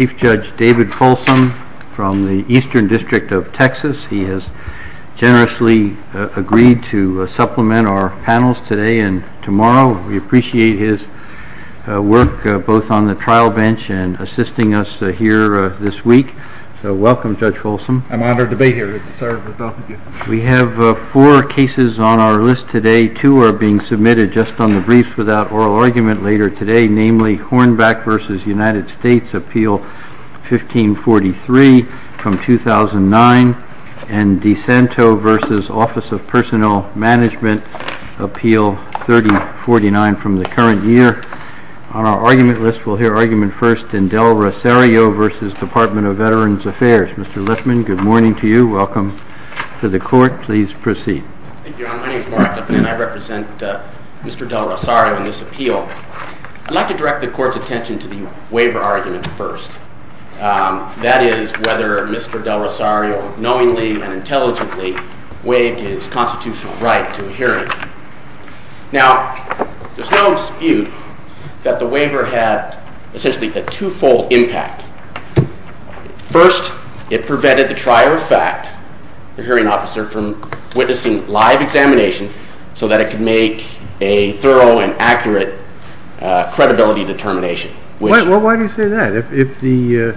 Chief Judge David Folsom from the Eastern District of Texas. He has generously agreed to supplement our panels today and tomorrow. We appreciate his work both on the trial bench and assisting us here this week. So welcome, Judge Folsom. I'm honored to be here. It's an honor to be with you. We have four cases on our list today. Two are being submitted just on the briefs without approval, 1543 from 2009 and DeSanto v. Office of Personal Management Appeal 3049 from the current year. On our argument list, we'll hear argument first in Del Rosario v. Department of Veterans Affairs. Mr. Liffman, good morning to you. Welcome to the Court. Please proceed. Thank you, Your Honor. My name is Mark Liffman and I represent Mr. Del Rosario in this appeal. I'd like to direct the Court's attention to the waiver argument first, that is, whether Mr. Del Rosario knowingly and intelligently waived his constitutional right to a hearing. Now, there's no dispute that the waiver had essentially a twofold impact. First, it prevented the trier of fact, the hearing officer, from witnessing live examination so that it could make a thorough and accurate credibility determination. Why do you say that? If the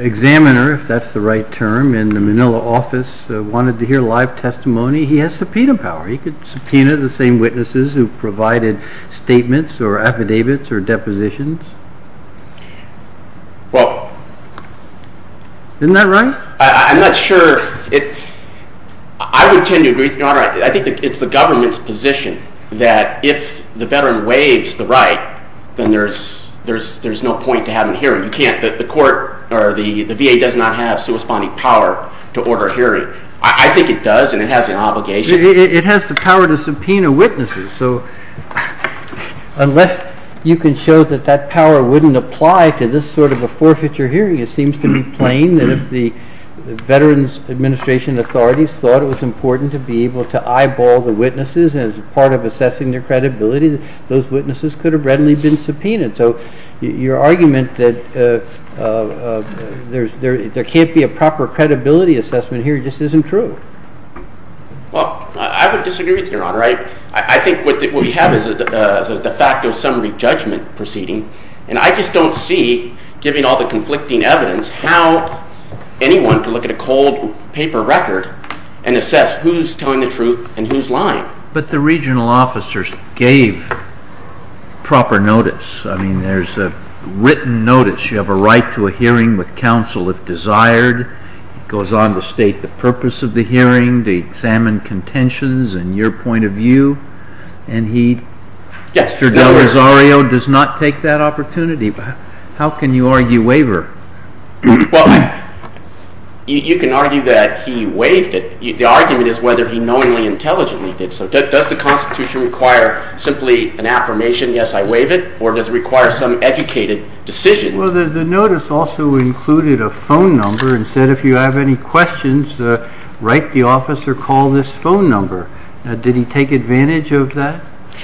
examiner, if that's the right term, in the Manila office wanted to hear live testimony, he has subpoena power. He could subpoena the same witnesses who provided statements or affidavits or depositions. Well... Isn't that right? I'm not sure. I would tend to agree with you, Your Honor. I think it's the government's position that if the veteran waives the right, then there's no point to have a hearing. You can't. The court or the VA does not have suspending power to order a hearing. I think it does and it has an obligation. It has the power to subpoena witnesses, so unless you can show that that power wouldn't apply to this sort of a forfeiture hearing, it seems to be plain that if the Veterans Administration authorities thought it was important to be able to eyeball the witnesses as part of assessing their credibility, those witnesses could have readily been subpoenaed. So your argument that there can't be a proper credibility assessment here just isn't true. Well, I would disagree with you, Your Honor. I think what we have is a de facto summary judgment proceeding, and I just don't see, given all the conflicting evidence, how anyone could look at a cold paper record and assess who's telling the truth and who's lying. But the regional officers gave proper notice. I mean, there's a written notice. You have a right to a hearing with counsel if desired. It goes on to state the purpose of the hearing, the examined contentions, and your point of view, and he, Mr. Del Rosario, does not take that opportunity. How can you argue waiver? Well, you can argue that he waived it. The argument is whether he knowingly, intelligently did so. Does the Constitution require simply an affirmation, yes, I waive it, or does it require some educated decision? Well, the notice also included a phone number and said if you have any questions, write the officer, call this phone number. Now, did he take advantage of that?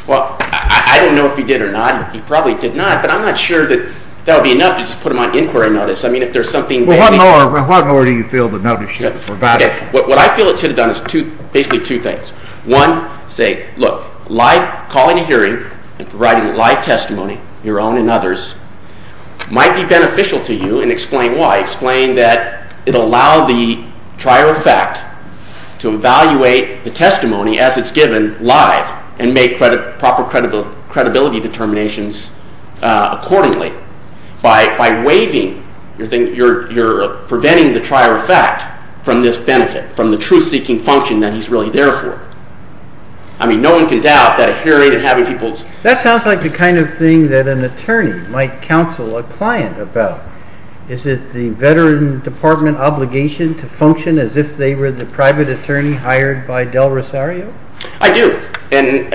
Well, I don't know if he did or not. He probably did not, but I'm not sure that that would be enough to just put him on inquiry notice. I mean, if there's something that he... Well, how more do you feel the notice should have provided? What I feel it should have done is basically two things. One, say, look, live, calling a hearing and providing live testimony, your own and others, might be beneficial to you and explain why. Explain that it'll allow the trier of fact to evaluate the testimony as it's given live and make proper credibility determinations accordingly. By waiving, you're preventing the trier of fact from this benefit, from the truth-seeking function that he's really there for. I mean, no one can doubt that a hearing and having people... Is it the Veteran Department obligation to function as if they were the private attorney hired by Del Rosario? I do. And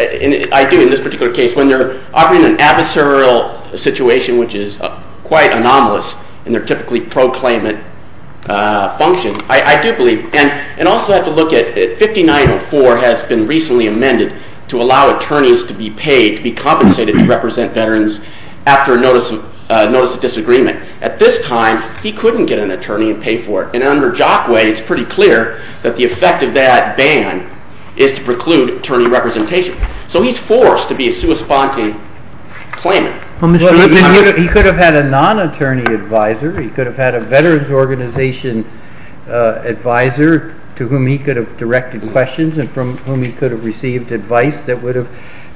I do in this particular case. When they're operating in an adversarial situation, which is quite anomalous in their typically pro-claimant function, I do believe. And also I have to look at 5904 has been recently amended to allow attorneys to be paid, to be compensated to represent veterans after a notice of disagreement. At this time, he couldn't get an attorney and pay for it. And under Jockway, it's pretty clear that the effect of that ban is to preclude attorney representation. So he's forced to be a sui sponte claimant. He could have had a non-attorney advisor. He could have had a veterans organization advisor to whom he could have directed questions and from whom he could have received advice that would have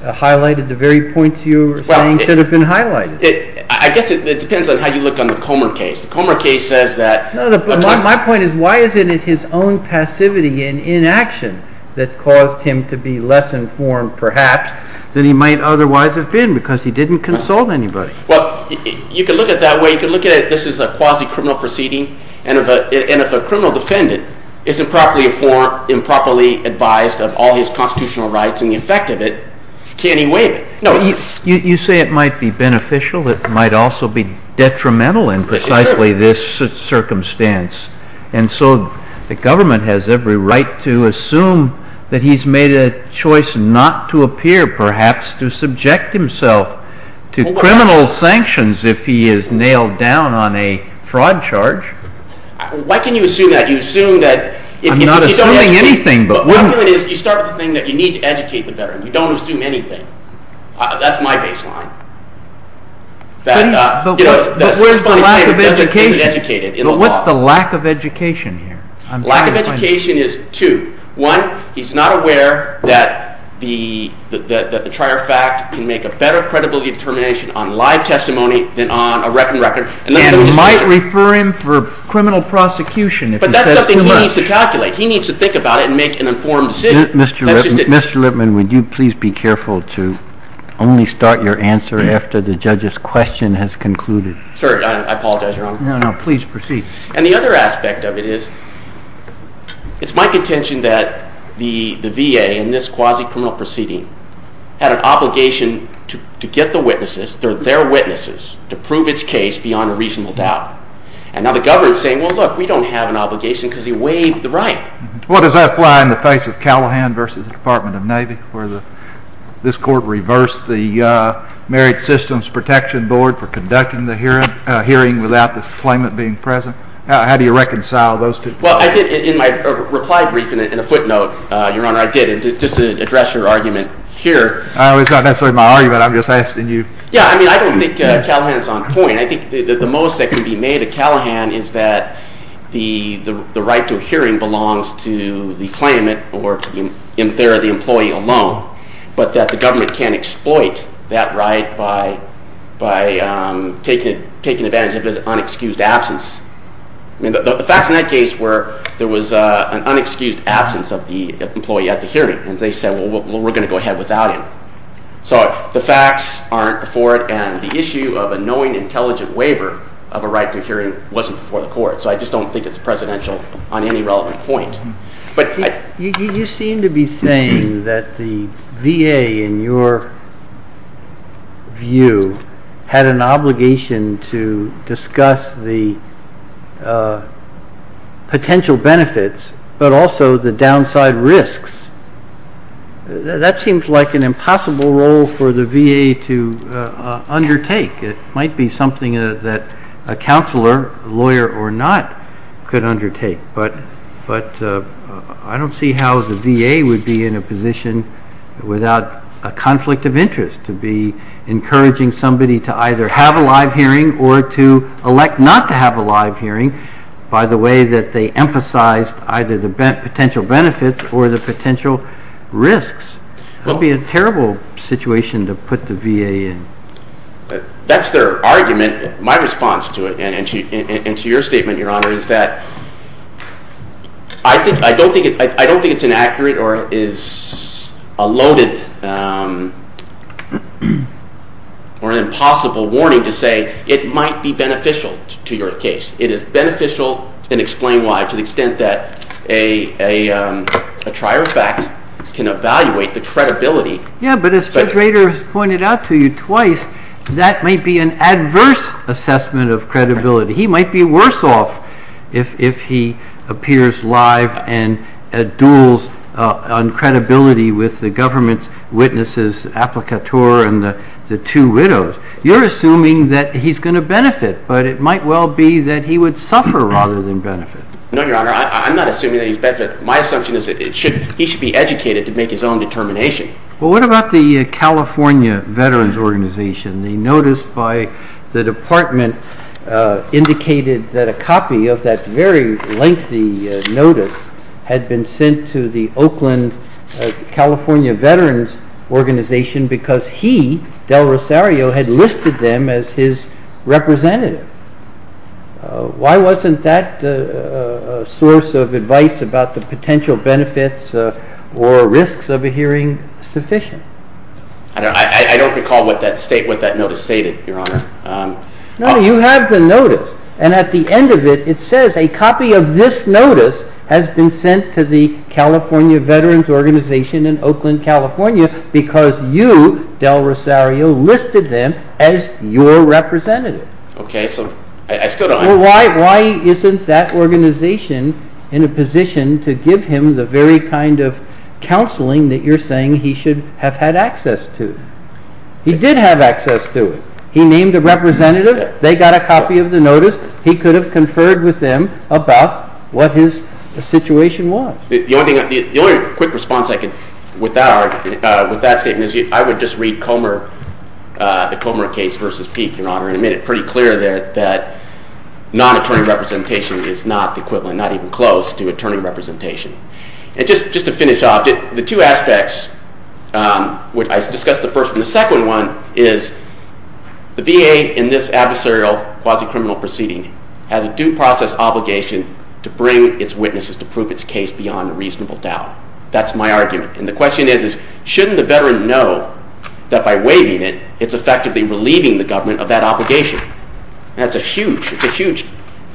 highlighted the very points you were saying should have been highlighted. I guess it depends on how you look on the Comer case. The Comer case says that... My point is, why isn't it his own passivity and inaction that caused him to be less informed perhaps than he might otherwise have been because he didn't consult anybody? Well, you could look at it that way. You could look at it, this is a quasi-criminal proceeding. And if a criminal defendant is improperly informed, improperly advised of all his constitutional rights and the effect of it, can he waive it? You say it might be beneficial. It might also be detrimental in precisely this circumstance. And so the government has every right to assume that he's made a choice not to appear, perhaps to subject himself to criminal sanctions if he is nailed down on a fraud charge. Why can you assume that? You assume that if you don't ask me... I'm not assuming anything, but... The point is, you start with the thing that you need to educate the veteran. You don't assume anything. That's my baseline. But where's the lack of education? But what's the lack of education here? Lack of education is two. One, he's not aware that the trier fact can make a better credibility determination on live testimony than on a written record. He needs to calculate. He needs to think about it and make an informed decision. Mr. Lippman, would you please be careful to only start your answer after the judge's question has concluded? Sorry, I apologize, Your Honor. No, no, please proceed. And the other aspect of it is, it's my contention that the VA in this quasi-criminal proceeding had an obligation to get the witnesses, their witnesses, to prove its case beyond a reasonable doubt. And now the government's saying, well, look, we don't have an obligation because he waived the right. Well, does that fly in the face of Callahan versus the Department of Navy, where this court reversed the Married Systems Protection Board for conducting the hearing without the claimant being present? How do you reconcile those two? Well, I did, in my reply brief, in a footnote, Your Honor, I did, just to address your argument here. It's not necessarily my argument. I'm just asking you. Yeah, I mean, I don't think Callahan is on point. I think the most that can be made of Callahan is that the right to a hearing belongs to the claimant or to the employee alone, but that the government can't exploit that right by taking advantage of his unexcused absence. I mean, the facts in that case were there was an unexcused absence of the employee at the hearing, and they said, well, we're going to go ahead without him. So the facts aren't before it, and the issue of a knowing, intelligent waiver of a right to a hearing wasn't before the court, so I just don't think it's presidential on any relevant point. You seem to be saying that the VA, in your view, had an obligation to discuss the potential benefits, but also the downside risks. That seems like an impossible role for the VA to undertake. It might be something that a counselor, lawyer or not, could undertake, but I don't see how the VA would be in a position without a conflict of interest to be encouraging somebody to either have a live hearing or to elect not to have a live hearing by the way that they emphasized either the potential benefits or the potential risks. That would be a terrible situation to put the VA in. That's their argument. My response to it, and to your statement, Your Honor, is that I don't think it's inaccurate or is a loaded or an impossible warning to say it might be beneficial to your case. It is beneficial, and explain why, to the extent that a trier of fact can evaluate the credibility. Yeah, but as Judge Rader has pointed out to you twice, that might be an adverse assessment of credibility. He might be worse off if he appears live and duels on credibility with the government's witnesses, the applicateur and the two widows. You're assuming that he's going to benefit, but it might well be that he would suffer rather than benefit. No, Your Honor, I'm not assuming that he's going to benefit. My assumption is that he should be educated to make his own determination. Well, what about the California Veterans Organization? The notice by the Department indicated that a copy of that very lengthy notice had been sent to the Oakland California Veterans Organization because he, Del Rosario, had listed them as his representative. Why wasn't that source of advice about the potential benefits or risks of a hearing sufficient? I don't recall what that notice stated, Your Honor. No, you have the notice, and at the end of it, it says a copy of this notice has been sent to the California Veterans Organization in Oakland, California because you, Del Rosario, listed them as your representative. Okay, so I still don't... Well, why isn't that organization in a position to give him the very kind of counseling that you're saying he should have had access to? He did have access to it. He named a representative. They got a copy of the notice. He could have conferred with them about what his situation was. The only quick response I could with that statement is I would just read the Comer case versus Peake, Your Honor, in a minute. Pretty clear there that non-attorney representation is not the equivalent, not even close to attorney representation. And just to finish off, the two aspects, I discussed the first one. The second one is the VA in this adversarial quasi-criminal proceeding has a due process obligation to bring its witnesses to prove its case beyond a reasonable doubt. That's my argument. And the question is, shouldn't the veteran know that by waiving it, it's effectively relieving the government of that obligation? That's a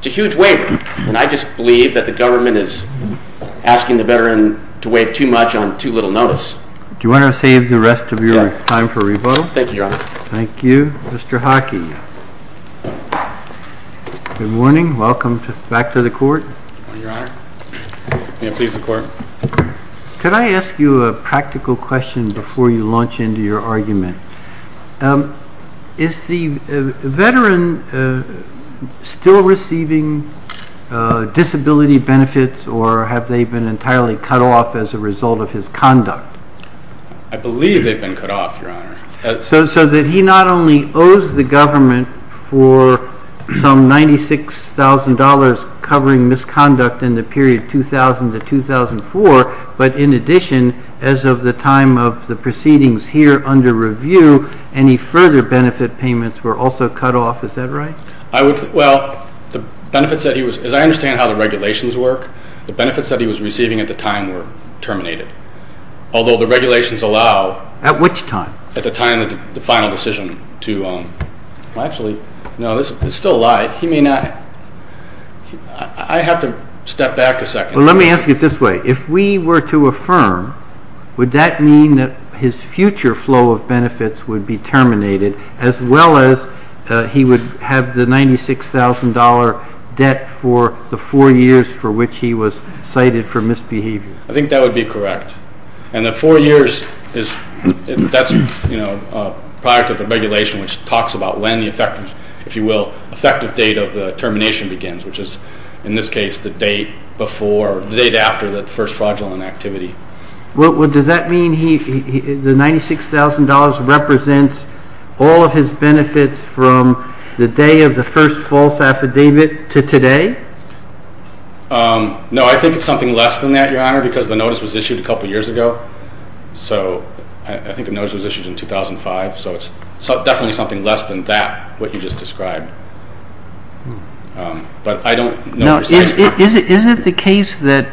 huge waiver. And I just believe that the government is asking the veteran to waive too much on too little notice. Do you want to save the rest of your time for rebuttal? Thank you, Your Honor. Thank you. Mr. Hockey. Good morning. Welcome back to the court. Good morning, Your Honor. May it please the Court. Could I ask you a practical question before you launch into your argument? Is the veteran still receiving disability benefits or have they been entirely cut off as a result of his conduct? I believe they've been cut off, Your Honor. So that he not only owes the government for some $96,000 covering misconduct in the period 2000 to 2004, but in addition, as of the time of the proceedings here under review, any further benefit payments were also cut off. Is that right? Well, as I understand how the regulations work, the benefits that he was receiving at the time were terminated, although the regulations allow at the time of the final decision to actually. No, it's still a lie. He may not. I have to step back a second. Well, let me ask it this way. If we were to affirm, would that mean that his future flow of benefits would be terminated as well as he would have the $96,000 debt for the four years for which he was cited for misbehavior? I think that would be correct. And the four years, that's prior to the regulation, which talks about when the effective, if you will, effective date of the termination begins, which is in this case the date after the first fraudulent activity. Does that mean the $96,000 represents all of his benefits from the day of the first false affidavit to today? I don't know because the notice was issued a couple of years ago. I think the notice was issued in 2005, so it's definitely something less than that, what you just described. But I don't know precisely. Isn't it the case that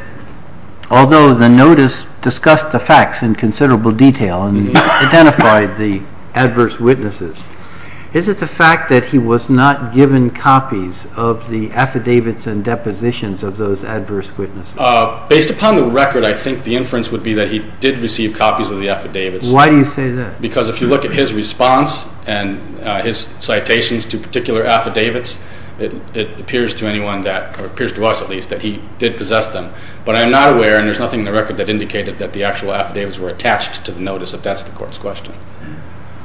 although the notice discussed the facts in considerable detail and identified the adverse witnesses, is it the fact that he was not given copies of the affidavits and depositions of those adverse witnesses? Based upon the record, I think the inference would be that he did receive copies of the affidavits. Why do you say that? Because if you look at his response and his citations to particular affidavits, it appears to us at least that he did possess them. But I'm not aware, and there's nothing in the record that indicated that the actual affidavits were attached to the notice, if that's the court's question.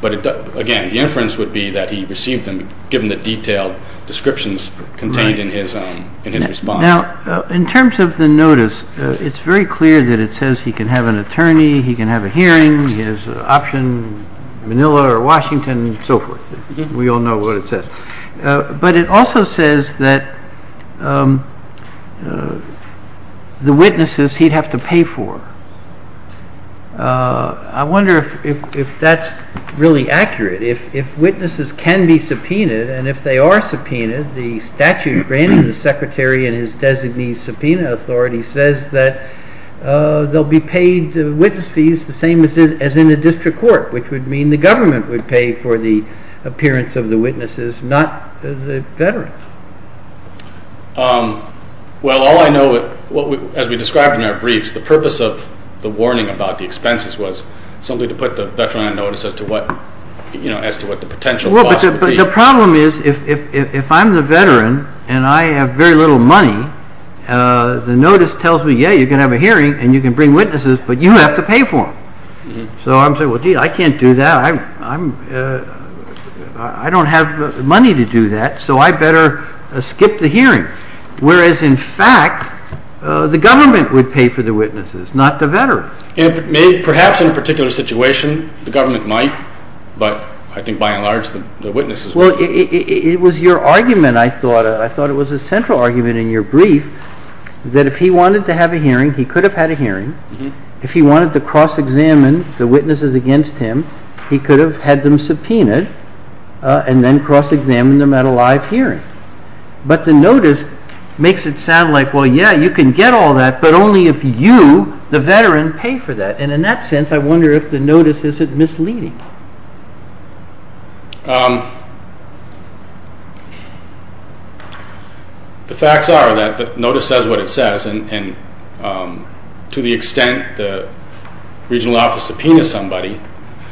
But again, the inference would be that he received them given the detailed descriptions contained in his response. Now, in terms of the notice, it's very clear that it says he can have an attorney, he can have a hearing, he has an option, Manila or Washington, and so forth. We all know what it says. But it also says that the witnesses he'd have to pay for. I wonder if that's really accurate. If witnesses can be subpoenaed, and if they are subpoenaed, the statute granting the secretary and his designee subpoena authority says that they'll be paid witness fees the same as in a district court, which would mean the government would pay for the appearance of the witnesses, not the veterans. Well, all I know, as we described in our briefs, the purpose of the warning about the expenses was simply to put the veteran on notice as to what the potential cost would be. But the problem is, if I'm the veteran and I have very little money, the notice tells me, yeah, you can have a hearing and you can bring witnesses, but you have to pay for them. So I'm saying, well, gee, I can't do that. I don't have money to do that, so I better skip the hearing. Whereas, in fact, the government would pay for the witnesses, not the veteran. Perhaps in a particular situation the government might, but I think by and large the witnesses would be paid. Well, it was your argument, I thought. I thought it was a central argument in your brief that if he wanted to have a hearing, he could have had a hearing. If he wanted to cross-examine the witnesses against him, he could have had them subpoenaed and then cross-examined them at a live hearing. But the notice makes it sound like, well, yeah, you can get all that, but only if you, the veteran, pay for that. And in that sense, I wonder if the notice isn't misleading. The facts are that the notice says what it says, and to the extent the regional office subpoenas somebody,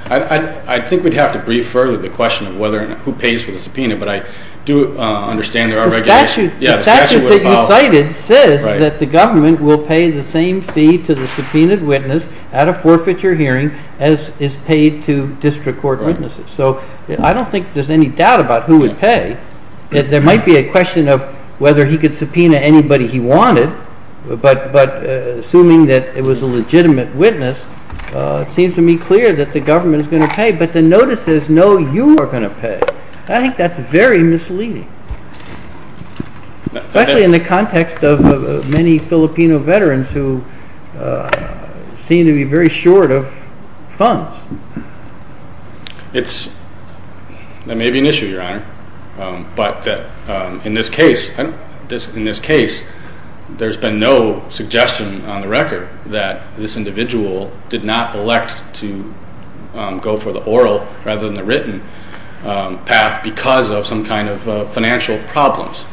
I think we'd have to brief further the question of who pays for the subpoena, but I do understand there are regulations. The statute that you cited says that the government will pay the same fee to the subpoenaed witness at a forfeiture hearing as is paid to district court witnesses. So I don't think there's any doubt about who would pay. There might be a question of whether he could subpoena anybody he wanted, but assuming that it was a legitimate witness, it seems to me clear that the government is going to pay, but the notice says no, you are going to pay. I think that's very misleading, especially in the context of many Filipino veterans who seem to be very short of funds. That may be an issue, Your Honor, but in this case there's been no suggestion on the record that this individual did not elect to go for the oral rather than the written path because of some kind of financial problems.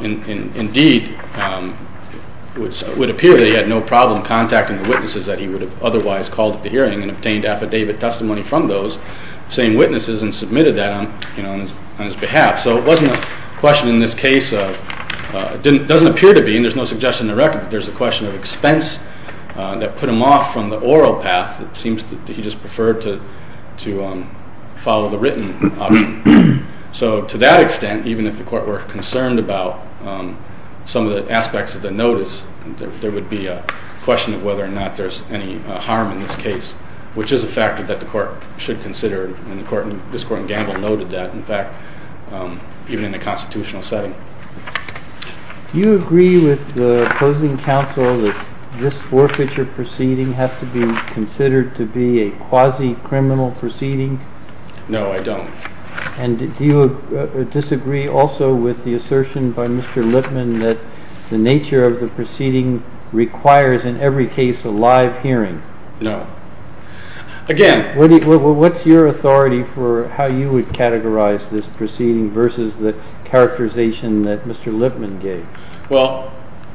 Indeed, it would appear that he had no problem contacting the witnesses that he would have otherwise called at the hearing and obtained affidavit testimony from those same witnesses and submitted that on his behalf. So it wasn't a question in this case of, it doesn't appear to be and there's no suggestion on the record that there's a question of expense that put him off from the oral path. It seems that he just preferred to follow the written option. So to that extent, even if the court were concerned about some of the aspects of the notice, there would be a question of whether or not there's any harm in this case, which is a factor that the court should consider and this court in Gamble noted that, in fact, even in a constitutional setting. Do you agree with the opposing counsel that this forfeiture proceeding has to be considered to be a quasi-criminal proceeding? No, I don't. And do you disagree also with the assertion by Mr. Lipman that the nature of the proceeding requires in every case a live hearing? No. Again, what's your authority for how you would categorize this proceeding versus the characterization that Mr. Lipman gave? Well,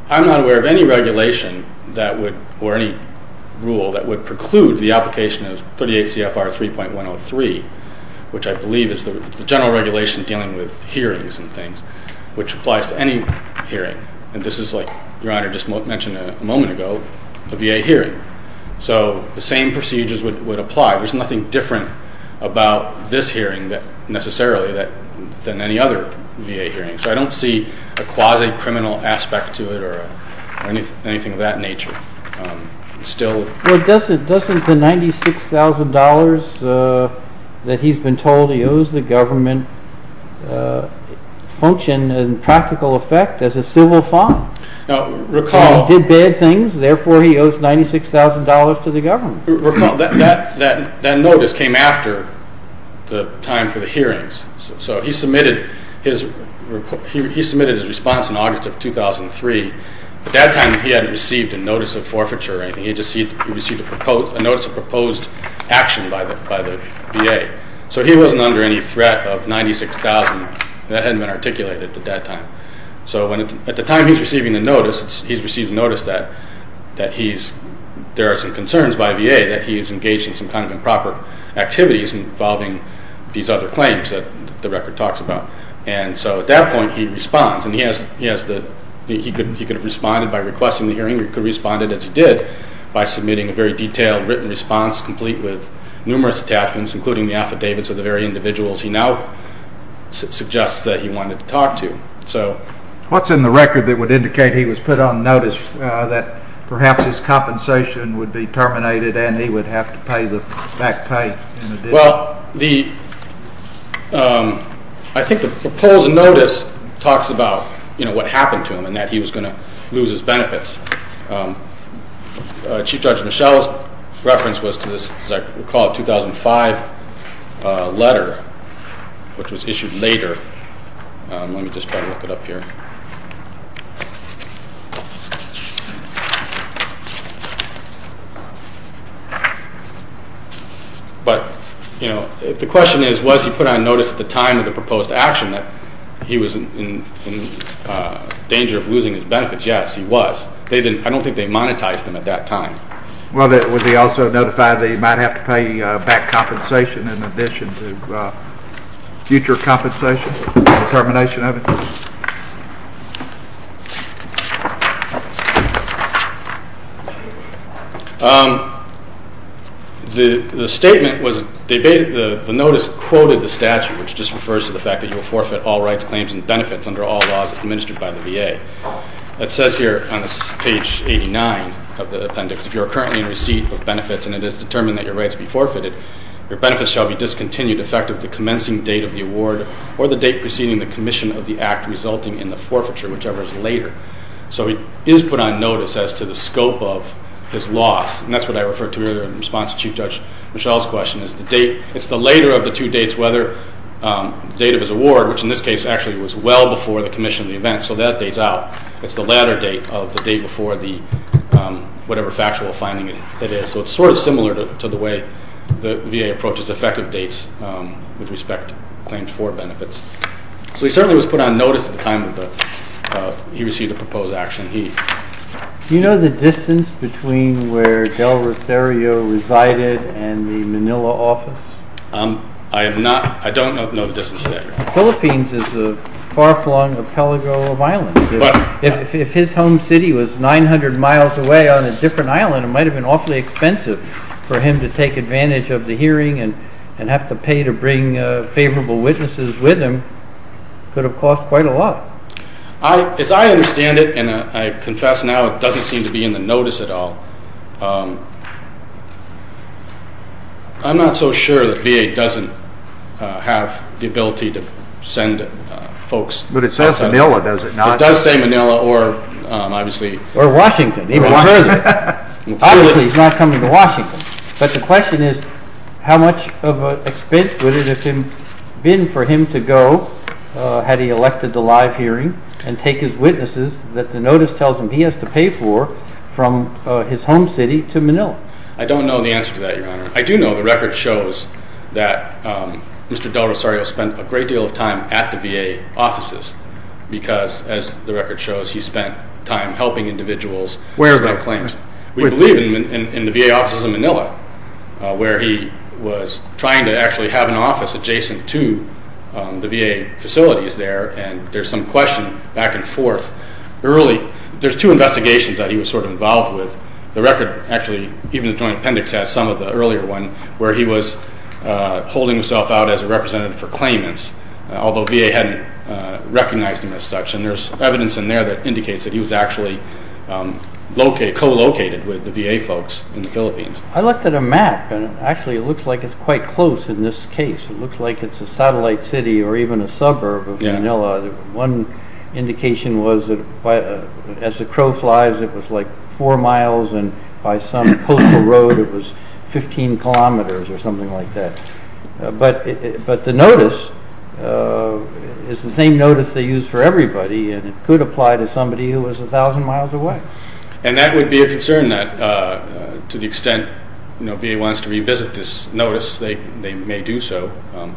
I'm not aware of any regulation or any rule that would preclude the application of 38 CFR 3.103, which I believe is the general regulation dealing with hearings and things, which applies to any hearing. And this is, like Your Honor just mentioned a moment ago, a VA hearing. So the same procedures would apply. There's nothing different about this hearing necessarily than any other VA hearing. So I don't see a quasi-criminal aspect to it or anything of that nature. Well, doesn't the $96,000 that he's been told he owes the government function in practical effect as a civil fine? He did bad things, therefore he owes $96,000 to the government. So he submitted his response in August of 2003. At that time, he hadn't received a notice of forfeiture or anything. He just received a notice of proposed action by the VA. So he wasn't under any threat of $96,000. That hadn't been articulated at that time. So at the time he's receiving the notice, he's received notice that there are some concerns by VA that he's engaged in some kind of improper activities involving these other claims that the record talks about. And so at that point he responds. And he could have responded by requesting the hearing. He could have responded as he did by submitting a very detailed written response complete with numerous attachments, including the affidavits of the very individuals he now suggests that he wanted to talk to. What's in the record that would indicate he was put on notice that perhaps his compensation would be terminated and he would have to pay the back pay in addition? Well, I think the proposed notice talks about what happened to him and that he was going to lose his benefits. Chief Judge Michel's reference was to this, as I recall, 2005 letter, which was issued later. Let me just try to look it up here. But, you know, if the question is, was he put on notice at the time of the proposed action that he was in danger of losing his benefits? Yes, he was. I don't think they monetized him at that time. Well, would he also notify that he might have to pay back compensation in addition to future compensation, the termination of it? The statement was the notice quoted the statute, which just refers to the fact that you will forfeit all rights, claims, and benefits under all laws administered by the VA. It says here on this page 89 of the appendix, if you are currently in receipt of benefits and it is determined that your rights be forfeited, your benefits shall be discontinued effective of the commencing date of the award or the date preceding the commission of the act resulting in the forfeiture, whichever is later. So he is put on notice as to the scope of his loss. And that's what I referred to earlier in response to Chief Judge Michel's question is the date. It's the later of the two dates, whether the date of his award, which in this case actually was well before the commission of the event. So that dates out. It's the latter date of the day before the whatever factual finding it is. So it's sort of similar to the way the VA approaches effective dates with respect to claims for benefits. So he certainly was put on notice at the time he received the proposed action. Do you know the distance between where Del Rosario resided and the Manila office? I don't know the distance to that. The Philippines is far along the pelago of islands. If his home city was 900 miles away on a different island, it might have been awfully expensive for him to take advantage of the hearing and have to pay to bring favorable witnesses with him. It could have cost quite a lot. As I understand it, and I confess now it doesn't seem to be in the notice at all, I'm not so sure that VA doesn't have the ability to send folks. But it says Manila, does it not? It does say Manila or obviously. Or Washington, even further. Obviously he's not coming to Washington. But the question is how much of an expense would it have been for him to go had he elected the live hearing and take his witnesses that the notice tells him he has to pay for from his home city to Manila? I don't know the answer to that, Your Honor. I do know the record shows that Mr. Del Rosario spent a great deal of time at the VA offices because, as the record shows, he spent time helping individuals file claims. Where? We believe in the VA offices in Manila where he was trying to actually have an office adjacent to the VA facilities there. And there's some question back and forth early. There's two investigations that he was sort of involved with. The record actually, even the joint appendix, has some of the earlier one where he was holding himself out as a representative for claimants, although VA hadn't recognized him as such. And there's evidence in there that indicates that he was actually co-located with the VA folks in the Philippines. I looked at a map, and actually it looks like it's quite close in this case. It looks like it's a satellite city or even a suburb of Manila. One indication was that as the crow flies, it was like four miles, and by some coastal road it was 15 kilometers or something like that. But the notice is the same notice they use for everybody, and it could apply to somebody who was 1,000 miles away. And that would be a concern that to the extent VA wants to revisit this notice, they may do so.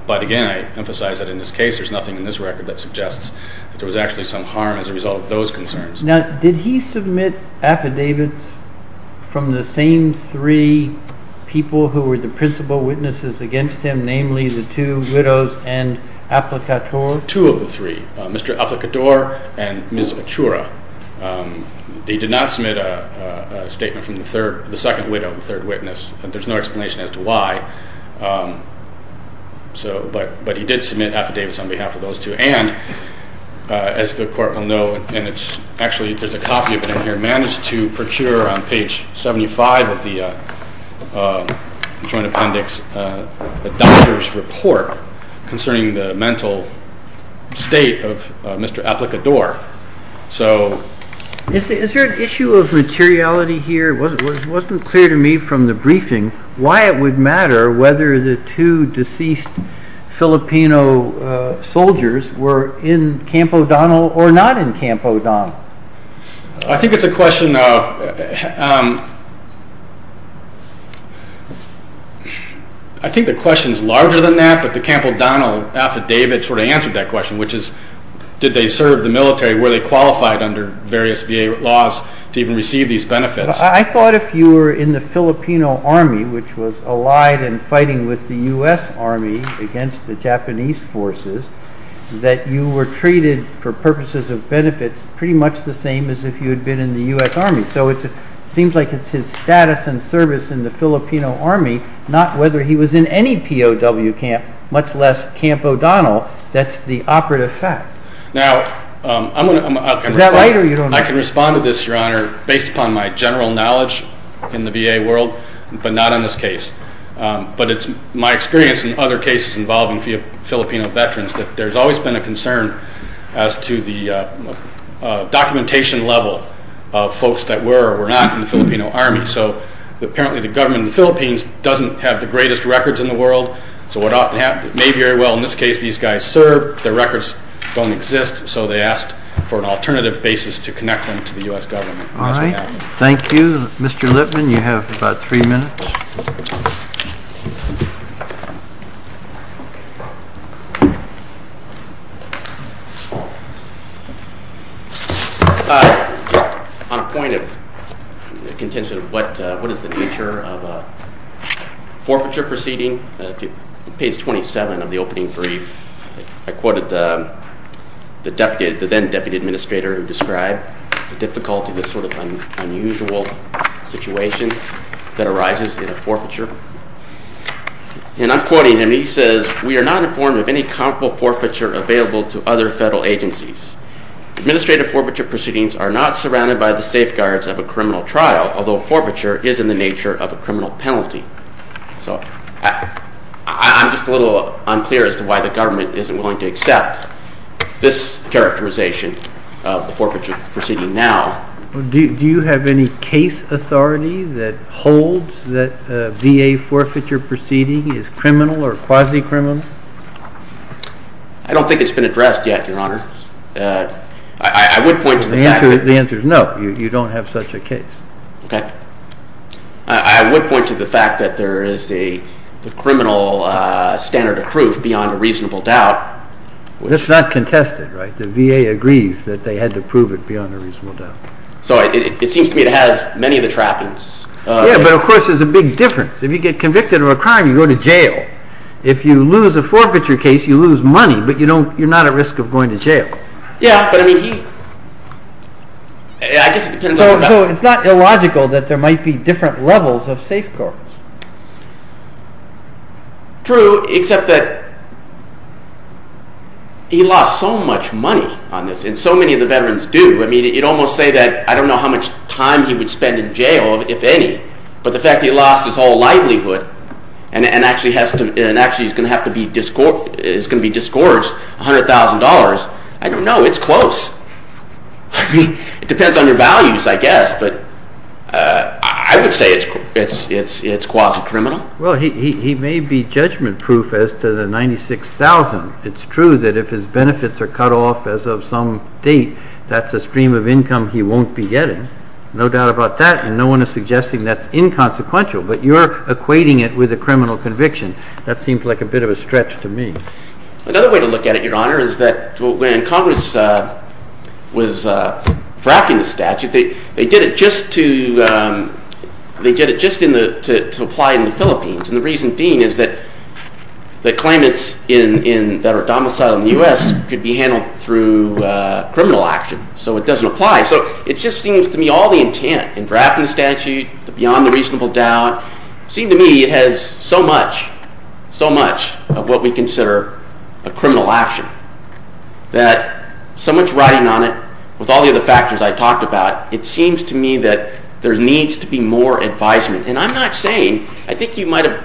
But, again, I emphasize that in this case there's nothing in this record that suggests that there was actually some harm as a result of those concerns. Now, did he submit affidavits from the same three people who were the principal witnesses against him, namely the two widows and Applicator? Two of the three, Mr. Applicator and Ms. Achura. He did not submit a statement from the second widow and the third witness. There's no explanation as to why, but he did submit affidavits on behalf of those two. And, as the Court will know, and actually there's a copy of it in here, managed to procure on page 75 of the Joint Appendix a doctor's report concerning the mental state of Mr. Applicator. Is there an issue of materiality here? It wasn't clear to me from the briefing why it would matter whether the two deceased Filipino soldiers were in Camp O'Donnell or not in Camp O'Donnell. I think it's a question of, I think the question is larger than that, but the Camp O'Donnell affidavit sort of answered that question, which is, did they serve the military? Were they qualified under various VA laws to even receive these benefits? I thought if you were in the Filipino Army, which was allied and fighting with the U.S. Army against the Japanese forces, that you were treated for purposes of benefits pretty much the same as if you had been in the U.S. Army. So it seems like it's his status and service in the Filipino Army, not whether he was in any POW camp, much less Camp O'Donnell. That's the operative fact. Now, I can respond to this, Your Honor, based upon my general knowledge in the VA world, but not in this case. But it's my experience in other cases involving Filipino veterans that there's always been a concern as to the documentation level of folks that were or were not in the Filipino Army. So apparently the government in the Philippines doesn't have the greatest records in the world, so what often happens, it may be very well in this case these guys served, their records don't exist, so they asked for an alternative basis to connect them to the U.S. government. All right, thank you. Mr. Lippman, you have about three minutes. All right. On the point of contention of what is the nature of a forfeiture proceeding, page 27 of the opening brief, I quoted the then-Deputy Administrator who described the difficulty, this sort of unusual situation that arises in a forfeiture. And I'm quoting, and he says, we are not informed of any comparable forfeiture available to other federal agencies. Administrative forfeiture proceedings are not surrounded by the safeguards of a criminal trial, although forfeiture is in the nature of a criminal penalty. So I'm just a little unclear as to why the government isn't willing to accept this characterization of the forfeiture proceeding now. Do you have any case authority that holds that a VA forfeiture proceeding is criminal or quasi-criminal? I don't think it's been addressed yet, Your Honor. I would point to the fact that The answer is no, you don't have such a case. Okay. I would point to the fact that there is a criminal standard of proof beyond a reasonable doubt. That's not contested, right? The VA agrees that they had to prove it beyond a reasonable doubt. So it seems to me it has many of the trappings. Yeah, but of course there's a big difference. If you get convicted of a crime, you go to jail. If you lose a forfeiture case, you lose money, but you don't, you're not at risk of going to jail. Yeah, but I mean he, I guess it depends. So it's not illogical that there might be different levels of safeguards. True, except that he lost so much money on this, and so many of the veterans do. I mean, you'd almost say that I don't know how much time he would spend in jail, if any. But the fact that he lost his whole livelihood and actually has to, and actually is going to have to be, is going to be disgorged, $100,000, I don't know, it's close. I mean, it depends on your values, I guess, but I would say it's quasi-criminal. Well, he may be judgment-proof as to the $96,000. It's true that if his benefits are cut off as of some date, that's a stream of income he won't be getting, no doubt about that, and no one is suggesting that's inconsequential, but you're equating it with a criminal conviction. That seems like a bit of a stretch to me. Another way to look at it, Your Honor, is that when Congress was drafting the statute, they did it just to apply it in the Philippines, and the reason being is that claimants that are domiciled in the U.S. could be handled through criminal action, so it doesn't apply. So it just seems to me all the intent in drafting the statute, beyond the reasonable doubt, seems to me it has so much, so much of what we consider a criminal action, that so much writing on it, with all the other factors I talked about, it seems to me that there needs to be more advisement, and I'm not saying, I think you might have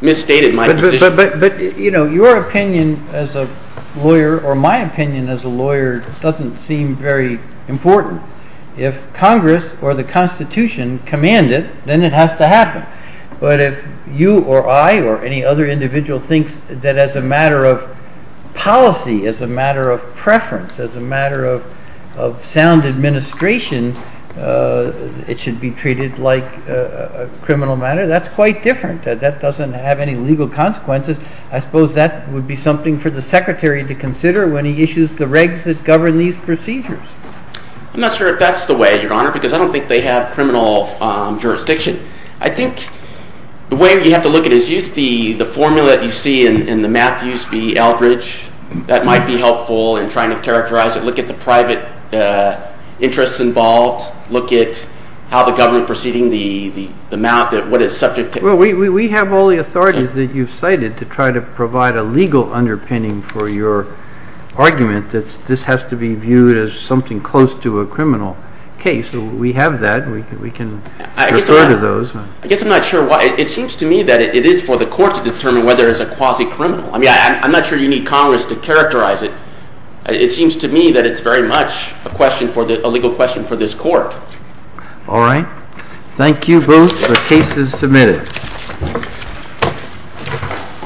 misstated my position. But your opinion as a lawyer, or my opinion as a lawyer, doesn't seem very important. If Congress or the Constitution command it, then it has to happen. But if you or I or any other individual thinks that as a matter of policy, as a matter of preference, as a matter of sound administration, it should be treated like a criminal matter, that's quite different. That doesn't have any legal consequences. I suppose that would be something for the Secretary to consider when he issues the regs that govern these procedures. I'm not sure if that's the way, Your Honor, because I don't think they have criminal jurisdiction. I think the way you have to look at it is use the formula that you see in the Matthews v. Eldridge. That might be helpful in trying to characterize it. Look at the private interests involved. Look at how the government is proceeding, the amount, what it's subject to. Well, we have all the authorities that you've cited to try to provide a legal underpinning for your argument that this has to be viewed as something close to a criminal case. We have that. We can refer to those. I guess I'm not sure why. It seems to me that it is for the Court to determine whether it's a quasi-criminal. I'm not sure you need Congress to characterize it. It seems to me that it's very much a legal question for this Court. All right. Thank you both. The case is submitted.